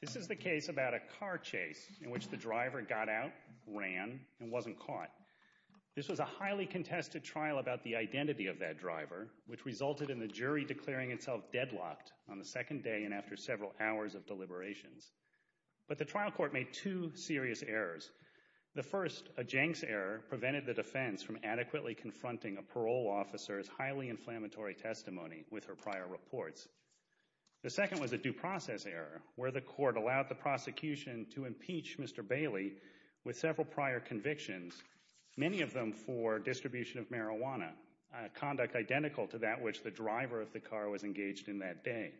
This is the case about a car chase in which the driver got out, ran, and wasn't caught. This was a highly contested trial about the identity of that driver, which resulted in the jury declaring itself deadlocked on the second day and after several hours of deliberations. But the trial court made two serious errors. The first, a Jenks error, prevented the defense from adequately confronting a parole officer's highly inflammatory testimony with her prior reports. The second was a due process error, where the court allowed the prosecution to impeach Mr. Bailey with several prior convictions, many of them for distribution of marijuana, conduct identical to that which the driver of the car was engaged in that day.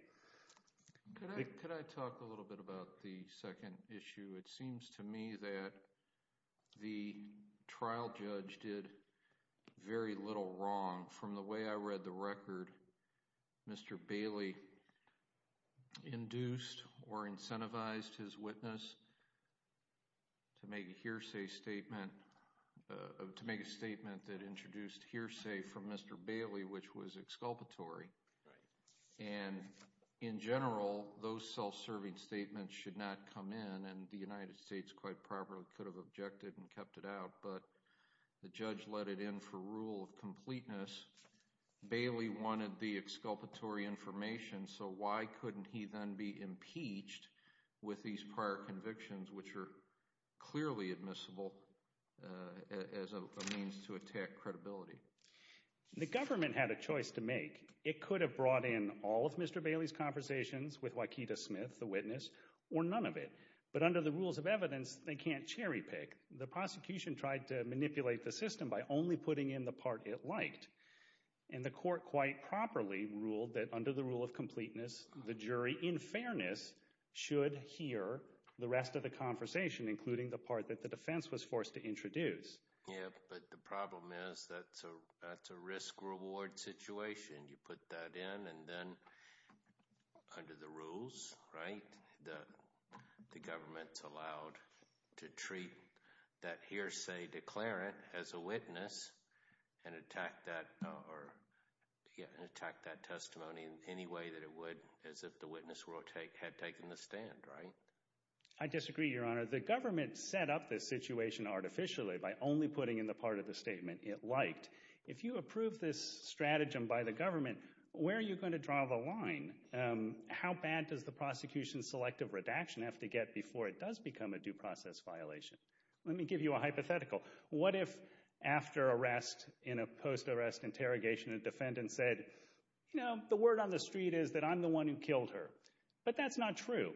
Could I talk a little bit about the second issue? It seems to me that the trial judge did very little wrong. From the way I read the record, Mr. Bailey induced or incentivized his witness to make a hearsay statement that introduced hearsay from Mr. Bailey, which was exculpatory. In general, those self-serving statements should not come in, and the United States quite properly could have objected and kept it out, but the judge let it in for rule of completeness. Bailey wanted the exculpatory information, so why couldn't he then be impeached with these prior convictions, which are clearly admissible as a means to attack credibility? The government had a choice to make. It could have brought in all of Mr. Bailey's conversations with Waikita Smith, the witness, or none of it, but under the rules of evidence, they can't cherry pick. The prosecution tried to manipulate the system by only putting in the part it liked, and the court quite properly ruled that under the rule of completeness, the jury, in fairness, should hear the rest of the conversation, including the part that the defense was forced to introduce. Yeah, but the problem is that's a risk-reward situation. You put that in, and then under the rules, right, the government's allowed to treat that hearsay declarant as a witness and attack that testimony in any way that it would as if the witness had taken the stand, right? I disagree, Your Honor. The government set up this situation artificially by only putting in the part of the statement it liked. If you approve this stratagem by the government, where are you going to draw the line? How bad does the prosecution's selective redaction have to get before it does become a due process violation? Let me give you a hypothetical. What if after arrest, in a post-arrest interrogation, a defendant said, you know, the word on the street is that I'm the one who killed her, but that's not true.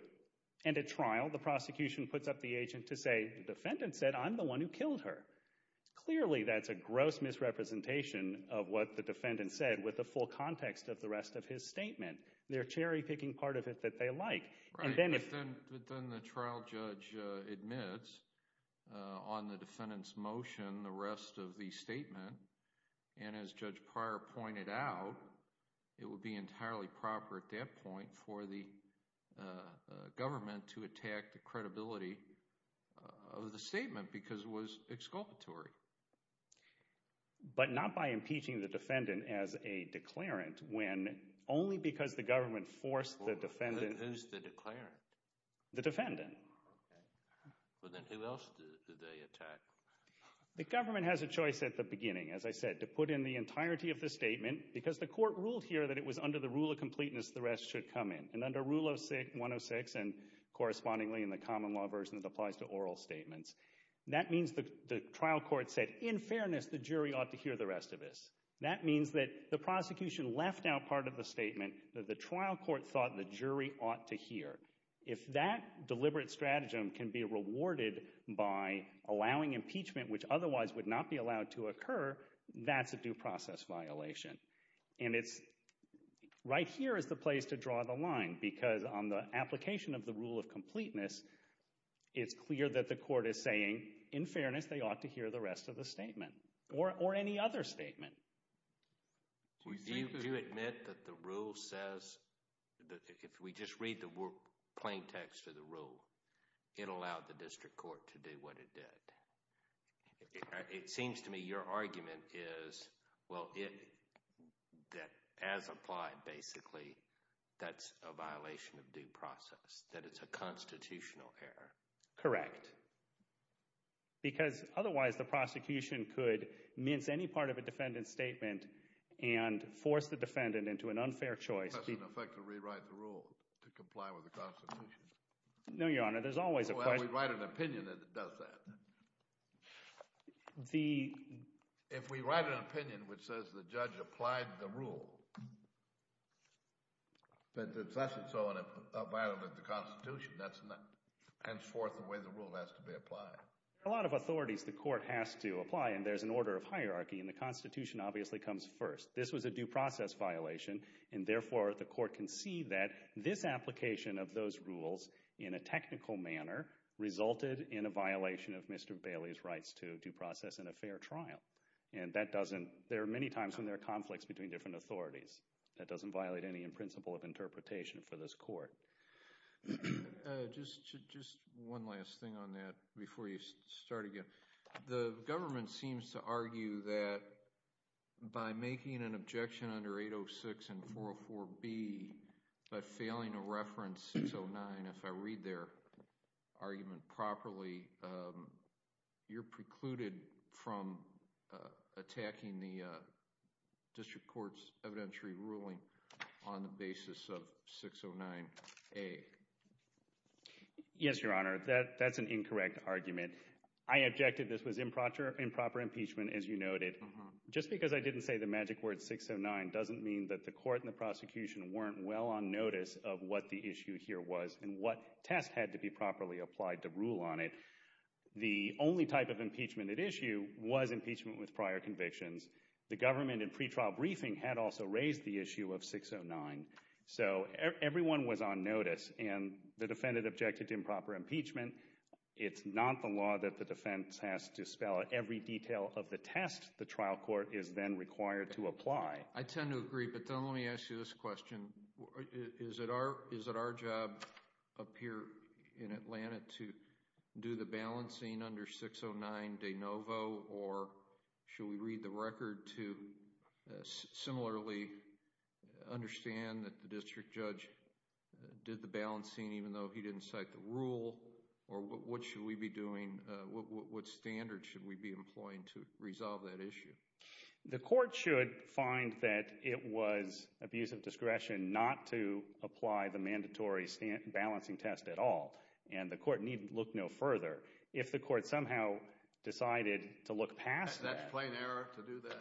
And at trial, the prosecution puts up the agent to say, the defendant said, I'm the one who killed her. Clearly, that's a gross misrepresentation of what the defendant said with the full context of the rest of his statement. They're cherry picking part of it that they like. Then the trial judge admits on the defendant's motion the rest of the statement, and as Judge Pryor pointed out, it would be entirely proper at that point for the government to attack the credibility of the statement because it was exculpatory. But not by impeaching the defendant as a declarant when only because the government forced the defendant. Who's the declarant? The defendant. Well, then who else do they attack? The government has a choice at the beginning, as I said, to put in the entirety of the statement because the court ruled here that it was under the rule of completeness the rest should come in. And under Rule 106 and correspondingly in the common law version, it applies to oral statements. That means the trial court said, in fairness, the jury ought to hear the rest of this. That means that the prosecution left out part of the statement that the trial court thought the jury ought to hear. If that deliberate stratagem can be rewarded by allowing impeachment, which otherwise would not be allowed to occur, that's a due process violation. And right here is the place to draw the line because on the application of the rule of completeness, it's clear that the court is saying, in fairness, they ought to hear the rest of the statement or any other statement. Do you admit that the rule says – if we just read the plain text of the rule, it allowed the district court to do what it did. It seems to me your argument is, well, that as applied basically, that's a violation of due process, that it's a constitutional error. Correct. Because otherwise the prosecution could mince any part of a defendant's statement and force the defendant into an unfair choice. It has an effect to rewrite the rule to comply with the Constitution. No, Your Honor. There's always a question. If we write an opinion that does that, if we write an opinion which says the judge applied the rule, that's a violation of the Constitution. That's henceforth the way the rule has to be applied. There are a lot of authorities the court has to apply, and there's an order of hierarchy, and the Constitution obviously comes first. This was a due process violation, and therefore the court can see that this application of those rules in a technical manner resulted in a violation of Mr. Bailey's rights to due process in a fair trial. And that doesn't – there are many times when there are conflicts between different authorities. That doesn't violate any principle of interpretation for this court. Just one last thing on that before you start again. The government seems to argue that by making an objection under 806 and 404B but failing to reference 609, if I read their argument properly, you're precluded from attacking the district court's evidentiary ruling on the basis of 609A. Yes, Your Honor. That's an incorrect argument. I objected this was improper impeachment, as you noted. Just because I didn't say the magic word 609 doesn't mean that the court and the prosecution weren't well on notice of what the issue here was and what test had to be properly applied to rule on it. The only type of impeachment at issue was impeachment with prior convictions. The government in pretrial briefing had also raised the issue of 609. So everyone was on notice, and the defendant objected to improper impeachment. It's not the law that the defense has to spell out every detail of the test the trial court is then required to apply. I tend to agree, but let me ask you this question. Is it our job up here in Atlanta to do the balancing under 609 de novo? Or should we read the record to similarly understand that the district judge did the balancing even though he didn't cite the rule? Or what should we be doing? What standard should we be employing to resolve that issue? The court should find that it was abuse of discretion not to apply the mandatory balancing test at all, and the court need look no further. If the court somehow decided to look past that. That's plain error to do that.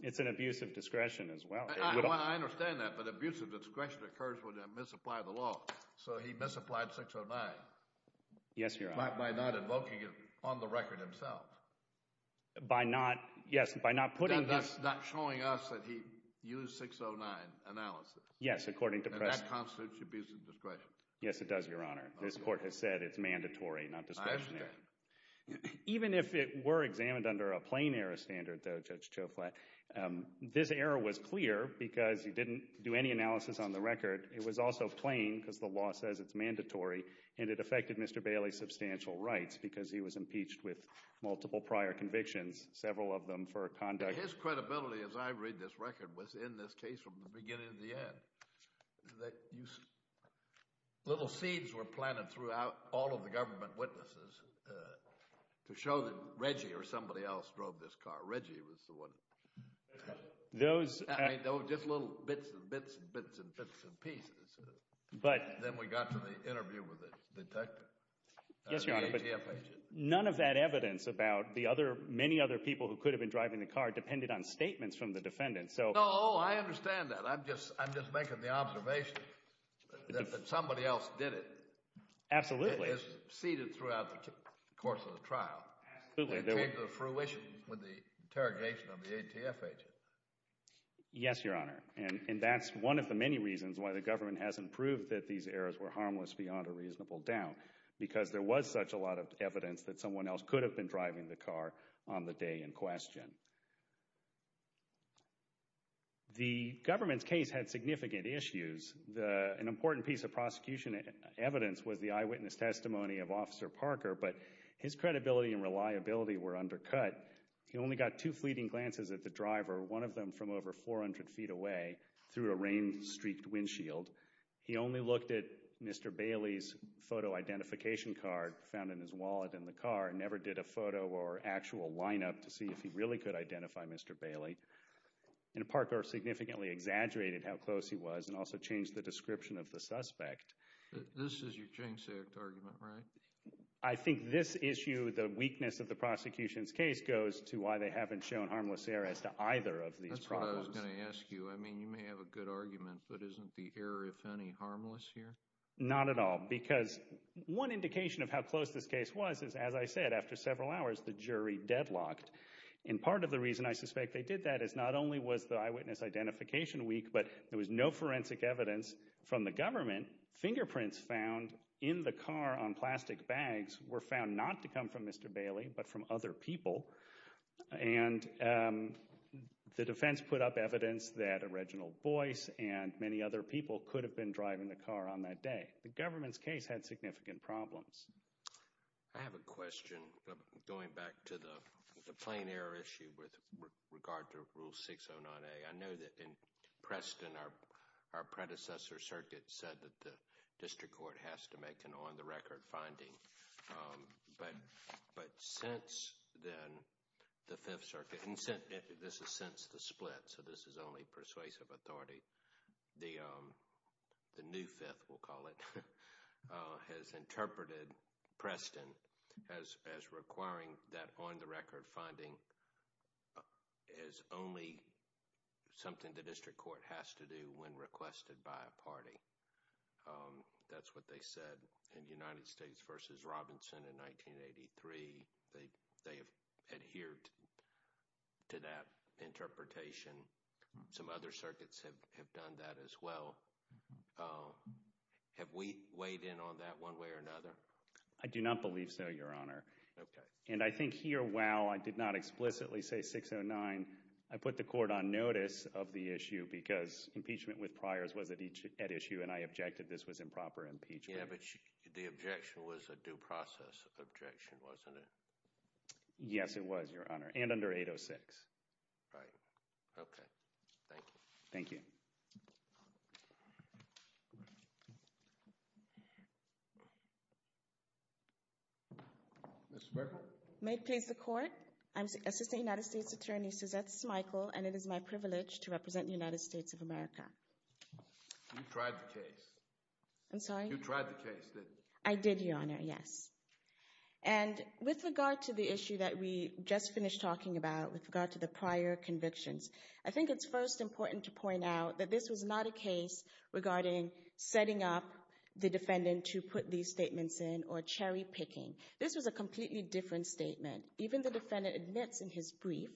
It's an abuse of discretion as well. I understand that, but abuse of discretion occurs when they misapply the law. So he misapplied 609. Yes, Your Honor. By not invoking it on the record himself. By not, yes, by not putting this. Not showing us that he used 609 analysis. Yes, according to press. And that constitutes abuse of discretion. Yes, it does, Your Honor. This court has said it's mandatory, not discretionary. I understand. Even if it were examined under a plain error standard, though, Judge Choflat, this error was clear because he didn't do any analysis on the record. It was also plain because the law says it's mandatory, and it affected Mr. Bailey's substantial rights because he was impeached with multiple prior convictions, several of them for conduct. His credibility, as I read this record, was in this case from the beginning to the end, that little seeds were planted throughout all of the government witnesses to show that Reggie or somebody else drove this car. Reggie was the one. Just little bits and bits and bits and bits and pieces. Then we got to the interview with the detective, the ATF agent. None of that evidence about the many other people who could have been driving the car depended on statements from the defendant. Oh, I understand that. I'm just making the observation that somebody else did it. Absolutely. It's seeded throughout the course of the trial. Absolutely. It came to fruition with the interrogation of the ATF agent. Yes, Your Honor, and that's one of the many reasons why the government hasn't proved that these errors were harmless beyond a reasonable doubt because there was such a lot of evidence that someone else could have been driving the car on the day in question. The government's case had significant issues. An important piece of prosecution evidence was the eyewitness testimony of Officer Parker, but his credibility and reliability were undercut. He only got two fleeting glances at the driver, one of them from over 400 feet away through a rain-streaked windshield. He only looked at Mr. Bailey's photo identification card found in his wallet in the car and never did a photo or actual lineup to see if he really could identify Mr. Bailey. And Parker significantly exaggerated how close he was and also changed the description of the suspect. This is your jinxed argument, right? I think this issue, the weakness of the prosecution's case, goes to why they haven't shown harmless error as to either of these problems. That's what I was going to ask you. I mean, you may have a good argument, but isn't the error, if any, harmless here? Not at all because one indication of how close this case was is, as I said, after several hours, the jury deadlocked. And part of the reason I suspect they did that is not only was the eyewitness identification weak, but there was no forensic evidence from the government. Fingerprints found in the car on plastic bags were found not to come from Mr. Bailey but from other people. And the defense put up evidence that a Reginald Boyce and many other people could have been driving the car on that day. The government's case had significant problems. I have a question going back to the plain error issue with regard to Rule 609A. I know that in Preston, our predecessor circuit said that the district court has to make an on-the-record finding. But since then, the Fifth Circuit—this is since the split, so this is only persuasive authority. The new Fifth, we'll call it, has interpreted Preston as requiring that on-the-record finding as only something the district court has to do when requested by a party. That's what they said in United States v. Robinson in 1983. They have adhered to that interpretation. Some other circuits have done that as well. Have we weighed in on that one way or another? I do not believe so, Your Honor. Okay. And I think here, while I did not explicitly say 609, I put the court on notice of the issue because impeachment with priors was at issue and I objected this was improper impeachment. Yeah, but the objection was a due process objection, wasn't it? Yes, it was, Your Honor, and under 806. Thank you. Ms. Merkel. May it please the Court? I'm Assistant United States Attorney Suzette Smikle, and it is my privilege to represent the United States of America. You tried the case. I'm sorry? You tried the case, didn't you? I did, Your Honor, yes. And with regard to the issue that we just finished talking about, with regard to the prior convictions, I think it's first important to point out that this was not a case regarding setting up the defendant to put these statements in or cherry-picking. This was a completely different statement. Even the defendant admits in his brief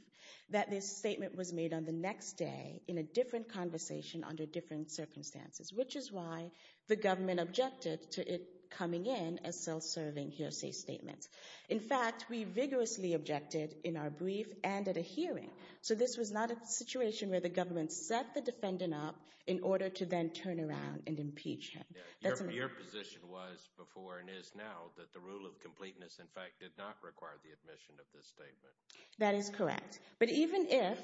that this statement was made on the next day in a different conversation under different circumstances, which is why the government objected to it coming in as self-serving hearsay statements. In fact, we vigorously objected in our brief and at a hearing, so this was not a situation where the government set the defendant up in order to then turn around and impeach him. Your position was before and is now that the rule of completeness, in fact, did not require the admission of this statement. That is correct. But even if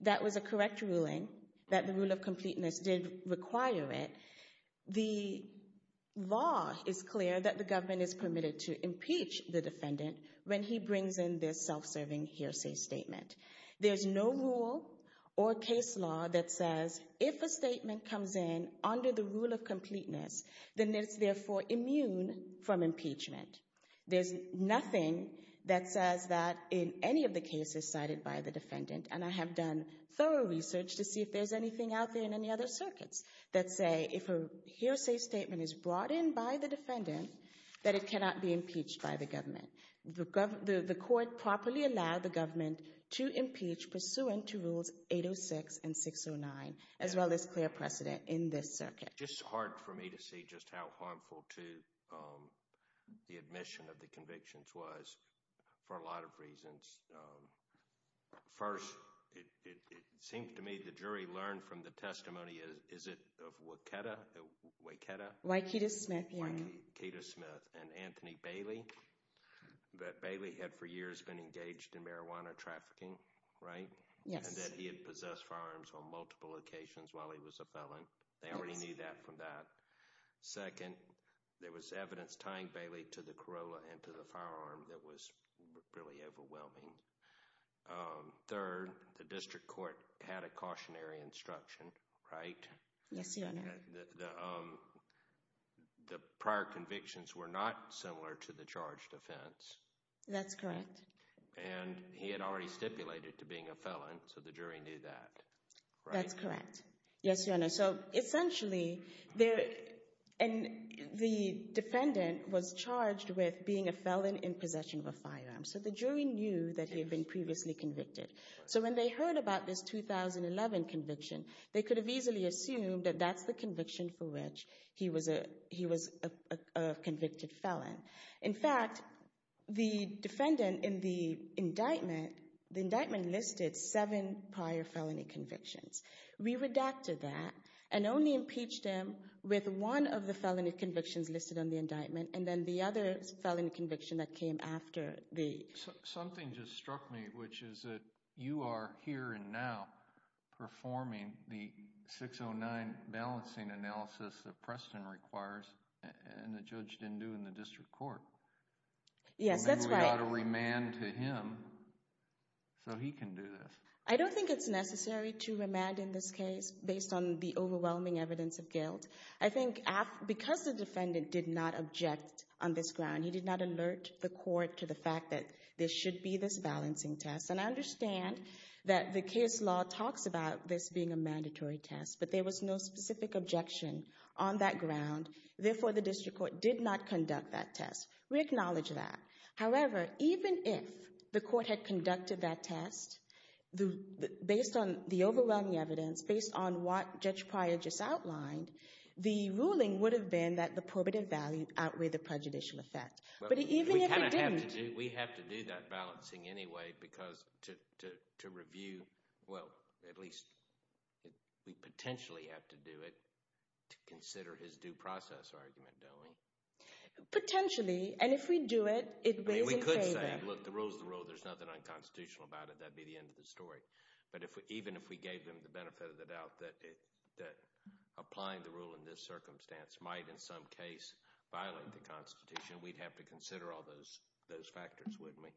that was a correct ruling, that the rule of completeness did require it, the law is clear that the government is permitted to impeach the defendant when he brings in this self-serving hearsay statement. There's no rule or case law that says if a statement comes in under the rule of completeness, then it's therefore immune from impeachment. There's nothing that says that in any of the cases cited by the defendant, and I have done thorough research to see if there's anything out there in any other circuits that say if a hearsay statement is brought in by the defendant, that it cannot be impeached by the government. The court properly allowed the government to impeach pursuant to Rules 806 and 609, as well as clear precedent in this circuit. It's just hard for me to see just how harmful to the admission of the convictions was for a lot of reasons. First, it seems to me the jury learned from the testimony, is it of Waiketa? Waiketa Smith, yeah. Waiketa Smith and Anthony Bailey. But Bailey had for years been engaged in marijuana trafficking, right? Yes. And that he had possessed firearms on multiple occasions while he was a felon. They already knew that from that. Second, there was evidence tying Bailey to the Corolla and to the firearm that was really overwhelming. Third, the district court had a cautionary instruction, right? Yes, Your Honor. The prior convictions were not similar to the charged offense. That's correct. And he had already stipulated to being a felon, so the jury knew that, right? That's correct. Yes, Your Honor. So essentially, the defendant was charged with being a felon in possession of a firearm. So the jury knew that he had been previously convicted. So when they heard about this 2011 conviction, they could have easily assumed that that's the conviction for which he was a convicted felon. In fact, the defendant in the indictment, the indictment listed seven prior felony convictions. We redacted that and only impeached him with one of the felony convictions listed on the indictment and then the other felony conviction that came after the— Something just struck me, which is that you are here and now performing the 609 balancing analysis that Preston requires and the judge didn't do in the district court. Yes, that's right. And then we ought to remand to him so he can do this. I don't think it's necessary to remand in this case based on the overwhelming evidence of guilt. I think because the defendant did not object on this ground, he did not alert the court to the fact that there should be this balancing test. And I understand that the case law talks about this being a mandatory test, but there was no specific objection on that ground. Therefore, the district court did not conduct that test. We acknowledge that. However, even if the court had conducted that test based on the overwhelming evidence, based on what Judge Pryor just outlined, the ruling would have been that the probative value outweighed the prejudicial effect. But even if it didn't— We have to do that balancing anyway because to review— well, at least we potentially have to do it to consider his due process argument, don't we? Potentially. And if we do it, it weighs in favor. We could say, look, the rule is the rule. There's nothing unconstitutional about it. That would be the end of the story. But even if we gave them the benefit of the doubt that applying the rule in this circumstance might in some case violate the Constitution, we'd have to consider all those factors, wouldn't we?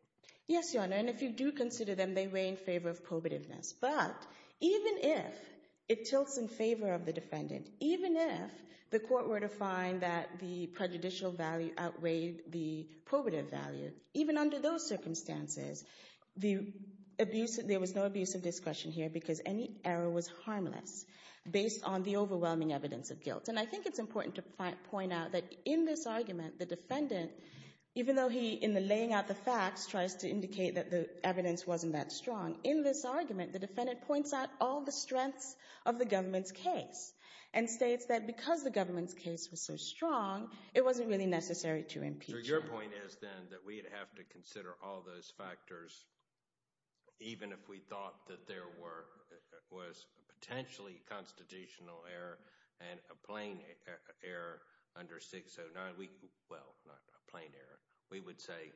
Yes, Your Honor, and if you do consider them, they weigh in favor of probativeness. But even if it tilts in favor of the defendant, even if the court were to find that the prejudicial value outweighed the probative value, even under those circumstances, there was no abuse of discretion here because any error was harmless, based on the overwhelming evidence of guilt. And I think it's important to point out that in this argument, the defendant, even though he, in laying out the facts, tries to indicate that the evidence wasn't that strong, in this argument, the defendant points out all the strengths of the government's case and states that because the government's case was so strong, it wasn't really necessary to impeach him. So your point is then that we'd have to consider all those factors, even if we thought that there was a potentially constitutional error and a plain error under 609. Well, not a plain error. We would say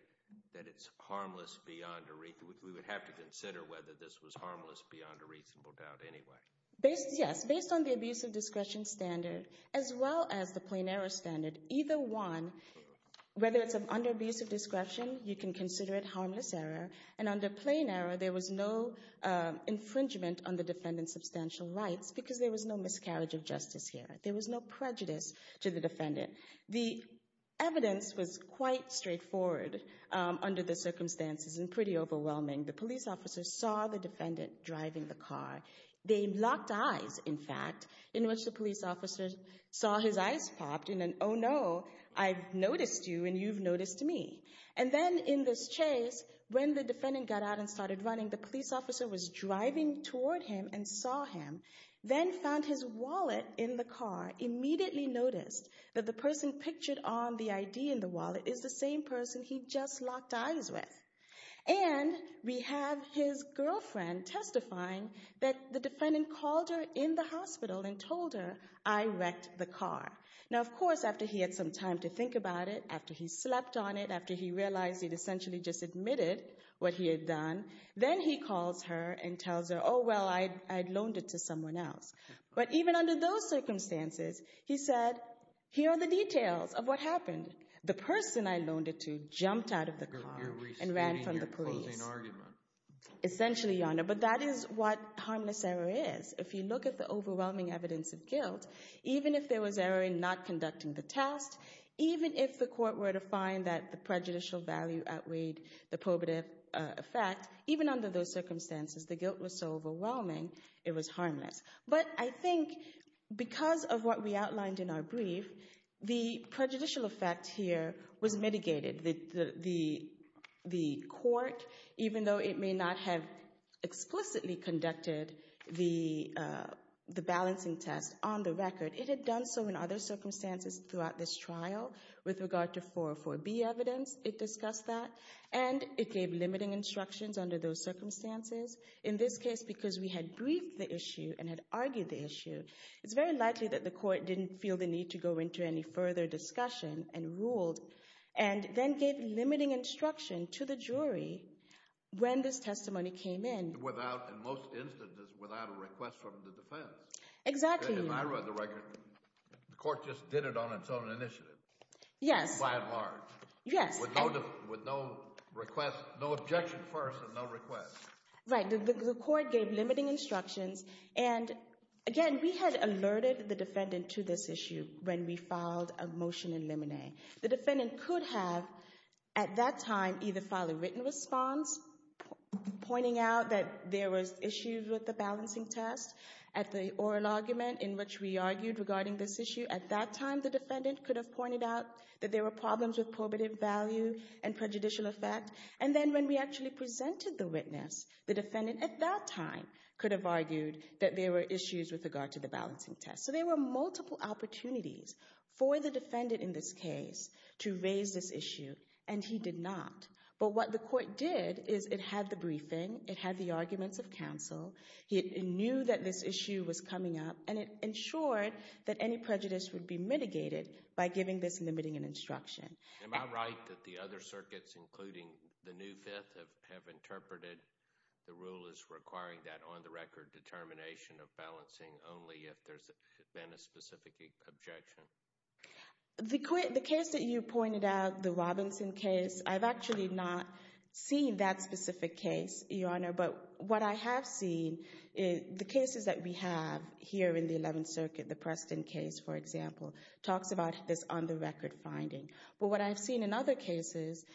that it's harmless beyond a – we would have to consider whether this was harmless beyond a reasonable doubt anyway. Yes, based on the abuse of discretion standard, as well as the plain error standard, either one, whether it's under abuse of discretion, you can consider it harmless error, and under plain error, there was no infringement on the defendant's substantial rights because there was no miscarriage of justice here. There was no prejudice to the defendant. The evidence was quite straightforward under the circumstances and pretty overwhelming. The police officer saw the defendant driving the car. They locked eyes, in fact, in which the police officer saw his eyes popped in an, oh, no, I've noticed you and you've noticed me. And then in this chase, when the defendant got out and started running, the police officer was driving toward him and saw him, then found his wallet in the car, immediately noticed that the person pictured on the ID in the wallet is the same person he just locked eyes with. And we have his girlfriend testifying that the defendant called her in the hospital and told her, I wrecked the car. Now, of course, after he had some time to think about it, after he slept on it, after he realized he'd essentially just admitted what he had done, then he calls her and tells her, oh, well, I'd loaned it to someone else. But even under those circumstances, he said, here are the details of what happened. The person I loaned it to jumped out of the car and ran from the police. Essentially, Your Honor, but that is what harmless error is. If you look at the overwhelming evidence of guilt, even if there was error in not conducting the test, even if the court were to find that the prejudicial value outweighed the probative effect, even under those circumstances, the guilt was so overwhelming, it was harmless. But I think because of what we outlined in our brief, the prejudicial effect here was mitigated. The court, even though it may not have explicitly conducted the balancing test on the record, it had done so in other circumstances throughout this trial with regard to 404B evidence. It discussed that, and it gave limiting instructions under those circumstances. In this case, because we had briefed the issue and had argued the issue, it's very likely that the court didn't feel the need to go into any further discussion and ruled and then gave limiting instruction to the jury when this testimony came in. Without, in most instances, without a request from the defense. Exactly. If I read the record, the court just did it on its own initiative. Yes. By and large. Yes. With no request, no objection first and no request. Right. The court gave limiting instructions, and again, we had alerted the defendant to this issue when we filed a motion in limine. The defendant could have at that time either filed a written response pointing out that there was issues with the balancing test at the oral argument in which we argued regarding this issue. At that time, the defendant could have pointed out that there were problems with probative value and prejudicial effect, and then when we actually presented the witness, the defendant at that time could have argued that there were issues with regard to the balancing test. So there were multiple opportunities for the defendant in this case to raise this issue, and he did not. But what the court did is it had the briefing, it had the arguments of counsel, he knew that this issue was coming up, and it ensured that any prejudice would be mitigated by giving this limiting instruction. Am I right that the other circuits, including the New Fifth, have interpreted the rule as requiring that on-the-record determination of balancing only if there's been a specific objection? The case that you pointed out, the Robinson case, I've actually not seen that specific case, Your Honor, but what I have seen, the cases that we have here in the Eleventh Circuit, the Preston case, for example, talks about this on-the-record finding. But what I've seen in other cases,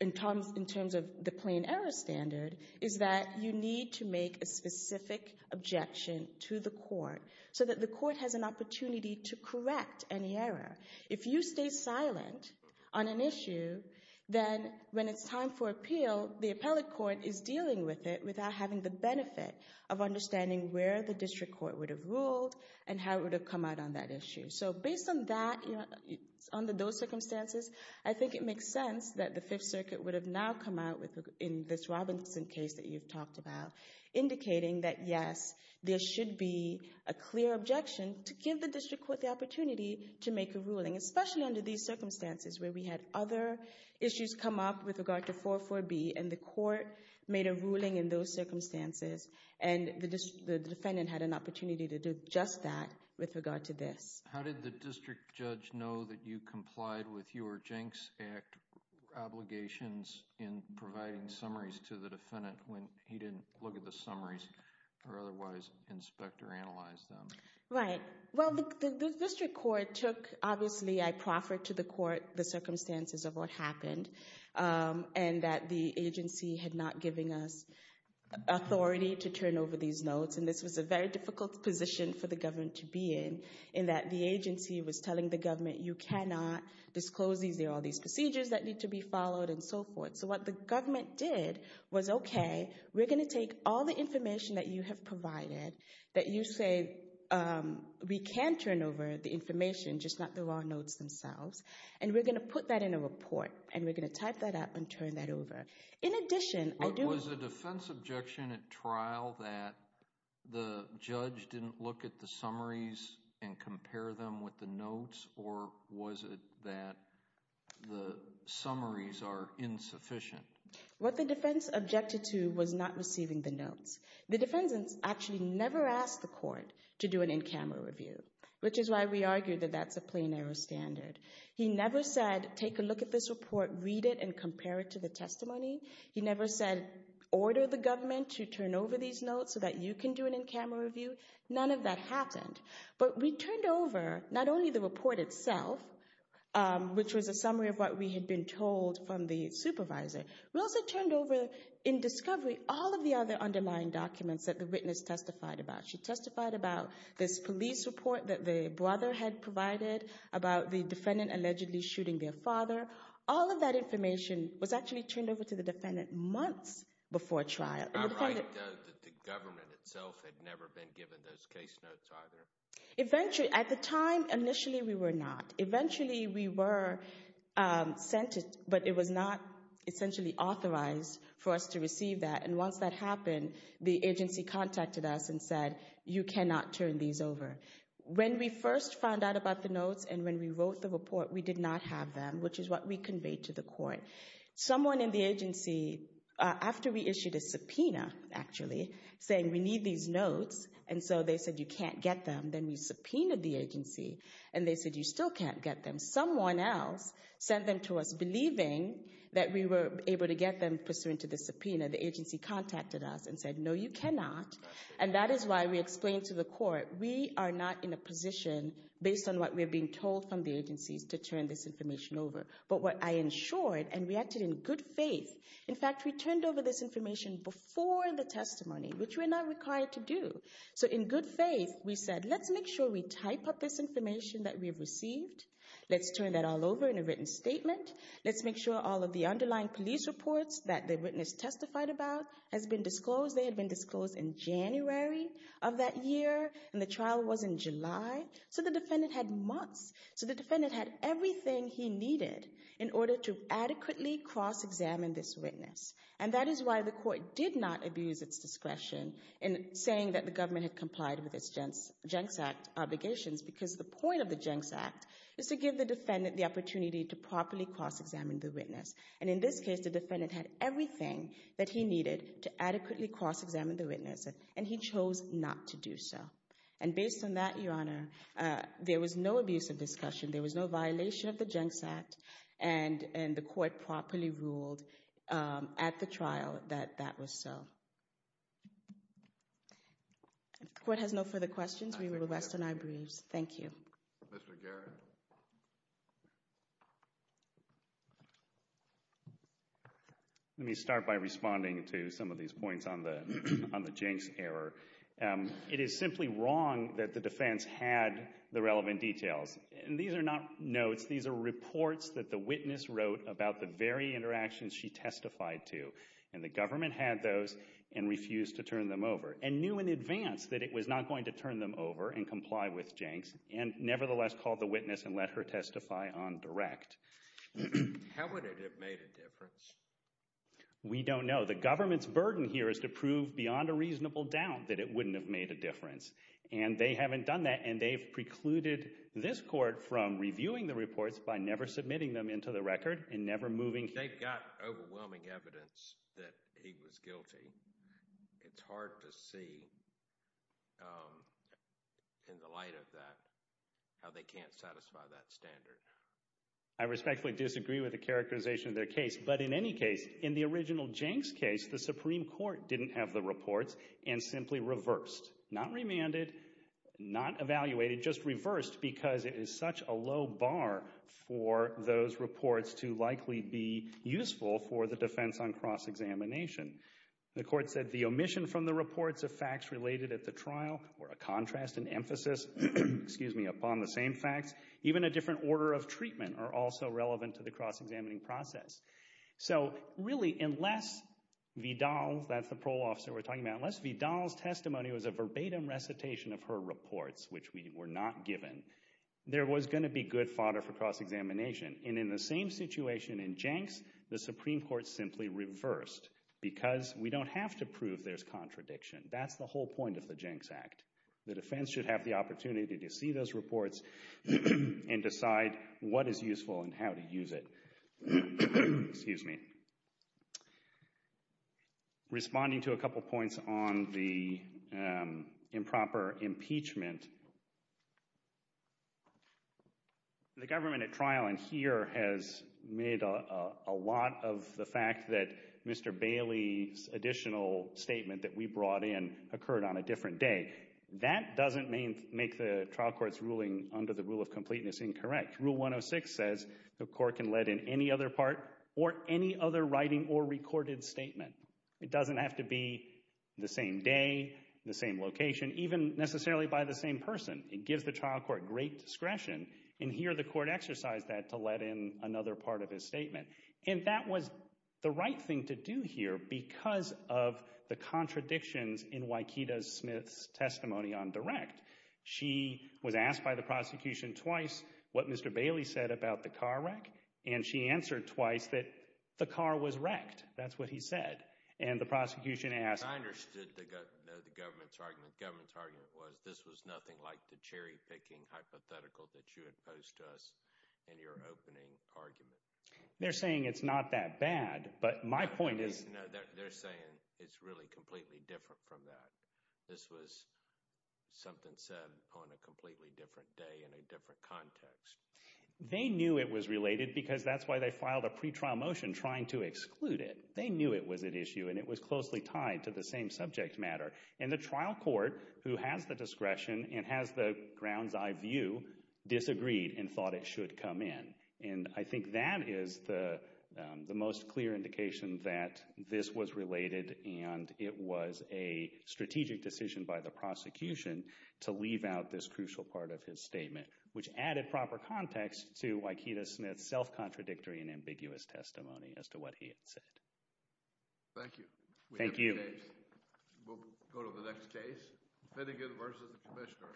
in terms of the plain error standard, is that you need to make a specific objection to the court so that the court has an opportunity to correct any error. If you stay silent on an issue, then when it's time for appeal, the appellate court is dealing with it without having the benefit of understanding where the district court would have ruled and how it would have come out on that issue. So based on that, under those circumstances, I think it makes sense that the Fifth Circuit would have now come out in this Robinson case that you've talked about, indicating that, yes, there should be a clear objection to give the district court the opportunity to make a ruling, especially under these circumstances where we had other issues come up with regard to 4.4b, and the court made a ruling in those circumstances, and the defendant had an opportunity to do just that with regard to this. How did the district judge know that you complied with your Jenks Act obligations in providing summaries to the defendant when he didn't look at the summaries or otherwise inspect or analyze them? Right. Well, the district court took, obviously, I proffered to the court the circumstances of what happened and that the agency had not given us authority to turn over these notes, and this was a very difficult position for the government to be in, in that the agency was telling the government, you cannot disclose these. There are all these procedures that need to be followed and so forth. So what the government did was, okay, we're going to take all the information that you have provided, that you say we can turn over the information, just not the raw notes themselves, and we're going to put that in a report, and we're going to type that up and turn that over. In addition, I do… Was the defense objection at trial that the judge didn't look at the summaries and compare them with the notes, or was it that the summaries are insufficient? The defendants actually never asked the court to do an in-camera review, which is why we argue that that's a plain error standard. He never said, take a look at this report, read it, and compare it to the testimony. He never said, order the government to turn over these notes so that you can do an in-camera review. None of that happened. But we turned over not only the report itself, which was a summary of what we had been told from the supervisor, we also turned over, in discovery, all of the other underlying documents that the witness testified about. She testified about this police report that the brother had provided, about the defendant allegedly shooting their father. All of that information was actually turned over to the defendant months before trial. The government itself had never been given those case notes either. Eventually, at the time, initially we were not. Eventually we were sent it, but it was not essentially authorized for us to receive that. And once that happened, the agency contacted us and said, you cannot turn these over. When we first found out about the notes and when we wrote the report, we did not have them, which is what we conveyed to the court. Someone in the agency, after we issued a subpoena, actually, saying we need these notes, and so they said, you can't get them, then we subpoenaed the agency, and they said, you still can't get them. Someone else sent them to us, believing that we were able to get them pursuant to the subpoena. The agency contacted us and said, no, you cannot. And that is why we explained to the court, we are not in a position, based on what we are being told from the agencies, to turn this information over. But what I ensured, and we acted in good faith, in fact, we turned over this information before the testimony, which we're not required to do. So in good faith, we said, let's make sure we type up this information that we've received. Let's turn that all over in a written statement. Let's make sure all of the underlying police reports that the witness testified about has been disclosed. They had been disclosed in January of that year, and the trial was in July. So the defendant had months. So the defendant had everything he needed in order to adequately cross-examine this witness. And that is why the court did not abuse its discretion in saying that the government had complied with its Jenks Act obligations, because the point of the Jenks Act is to give the defendant the opportunity to properly cross-examine the witness. And in this case, the defendant had everything that he needed to adequately cross-examine the witness, and he chose not to do so. And based on that, Your Honor, there was no abuse of discussion. There was no violation of the Jenks Act. And the court properly ruled at the trial that that was so. If the court has no further questions, we will rest on our briefs. Thank you. Mr. Garrett. Let me start by responding to some of these points on the Jenks error. It is simply wrong that the defense had the relevant details. And these are not notes. These are reports that the witness wrote about the very interactions she testified to. And the government had those and refused to turn them over and knew in advance that it was not going to turn them over and comply with Jenks and nevertheless called the witness and let her testify on direct. How would it have made a difference? We don't know. The government's burden here is to prove beyond a reasonable doubt that it wouldn't have made a difference. And they haven't done that, and they've precluded this court from reviewing the reports by never submitting them into the record and never moving. They've got overwhelming evidence that he was guilty. It's hard to see in the light of that how they can't satisfy that standard. I respectfully disagree with the characterization of their case. But in any case, in the original Jenks case, the Supreme Court didn't have the reports and simply reversed, not remanded, not evaluated, just reversed because it is such a low bar for those reports to likely be useful for the defense on cross-examination. The court said the omission from the reports of facts related at the trial were a contrast and emphasis upon the same facts. Even a different order of treatment are also relevant to the cross-examining process. So really, unless Vidal, that's the parole officer we're talking about, unless Vidal's testimony was a verbatim recitation of her reports, which were not given, there was going to be good fodder for cross-examination. And in the same situation in Jenks, the Supreme Court simply reversed because we don't have to prove there's contradiction. That's the whole point of the Jenks Act. The defense should have the opportunity to see those reports and decide what is useful and how to use it. Excuse me. Responding to a couple points on the improper impeachment, the government at trial in here has made a lot of the fact that Mr. Bailey's additional statement that we brought in occurred on a different day. That doesn't make the trial court's ruling under the rule of completeness incorrect. Rule 106 says the court can let in any other part or any other writing or recorded statement. It doesn't have to be the same day, the same location, even necessarily by the same person. It gives the trial court great discretion. And here the court exercised that to let in another part of his statement. And that was the right thing to do here because of the contradictions in Waikita Smith's testimony on direct. She was asked by the prosecution twice what Mr. Bailey said about the car wreck, and she answered twice that the car was wrecked. That's what he said. And the prosecution asked— I understood the government's argument. The government's argument was this was nothing like the cherry-picking hypothetical that you had posed to us in your opening argument. They're saying it's not that bad, but my point is— No, they're saying it's really completely different from that. This was something said on a completely different day in a different context. They knew it was related because that's why they filed a pretrial motion trying to exclude it. They knew it was an issue, and it was closely tied to the same subject matter. And the trial court, who has the discretion and has the grounds I view, disagreed and thought it should come in. And I think that is the most clear indication that this was related and it was a strategic decision by the prosecution to leave out this crucial part of his statement, which added proper context to Waikita Smith's self-contradictory and ambiguous testimony as to what he had said. Thank you. Thank you. We'll go to the next case. Finnegan v. Commissioner.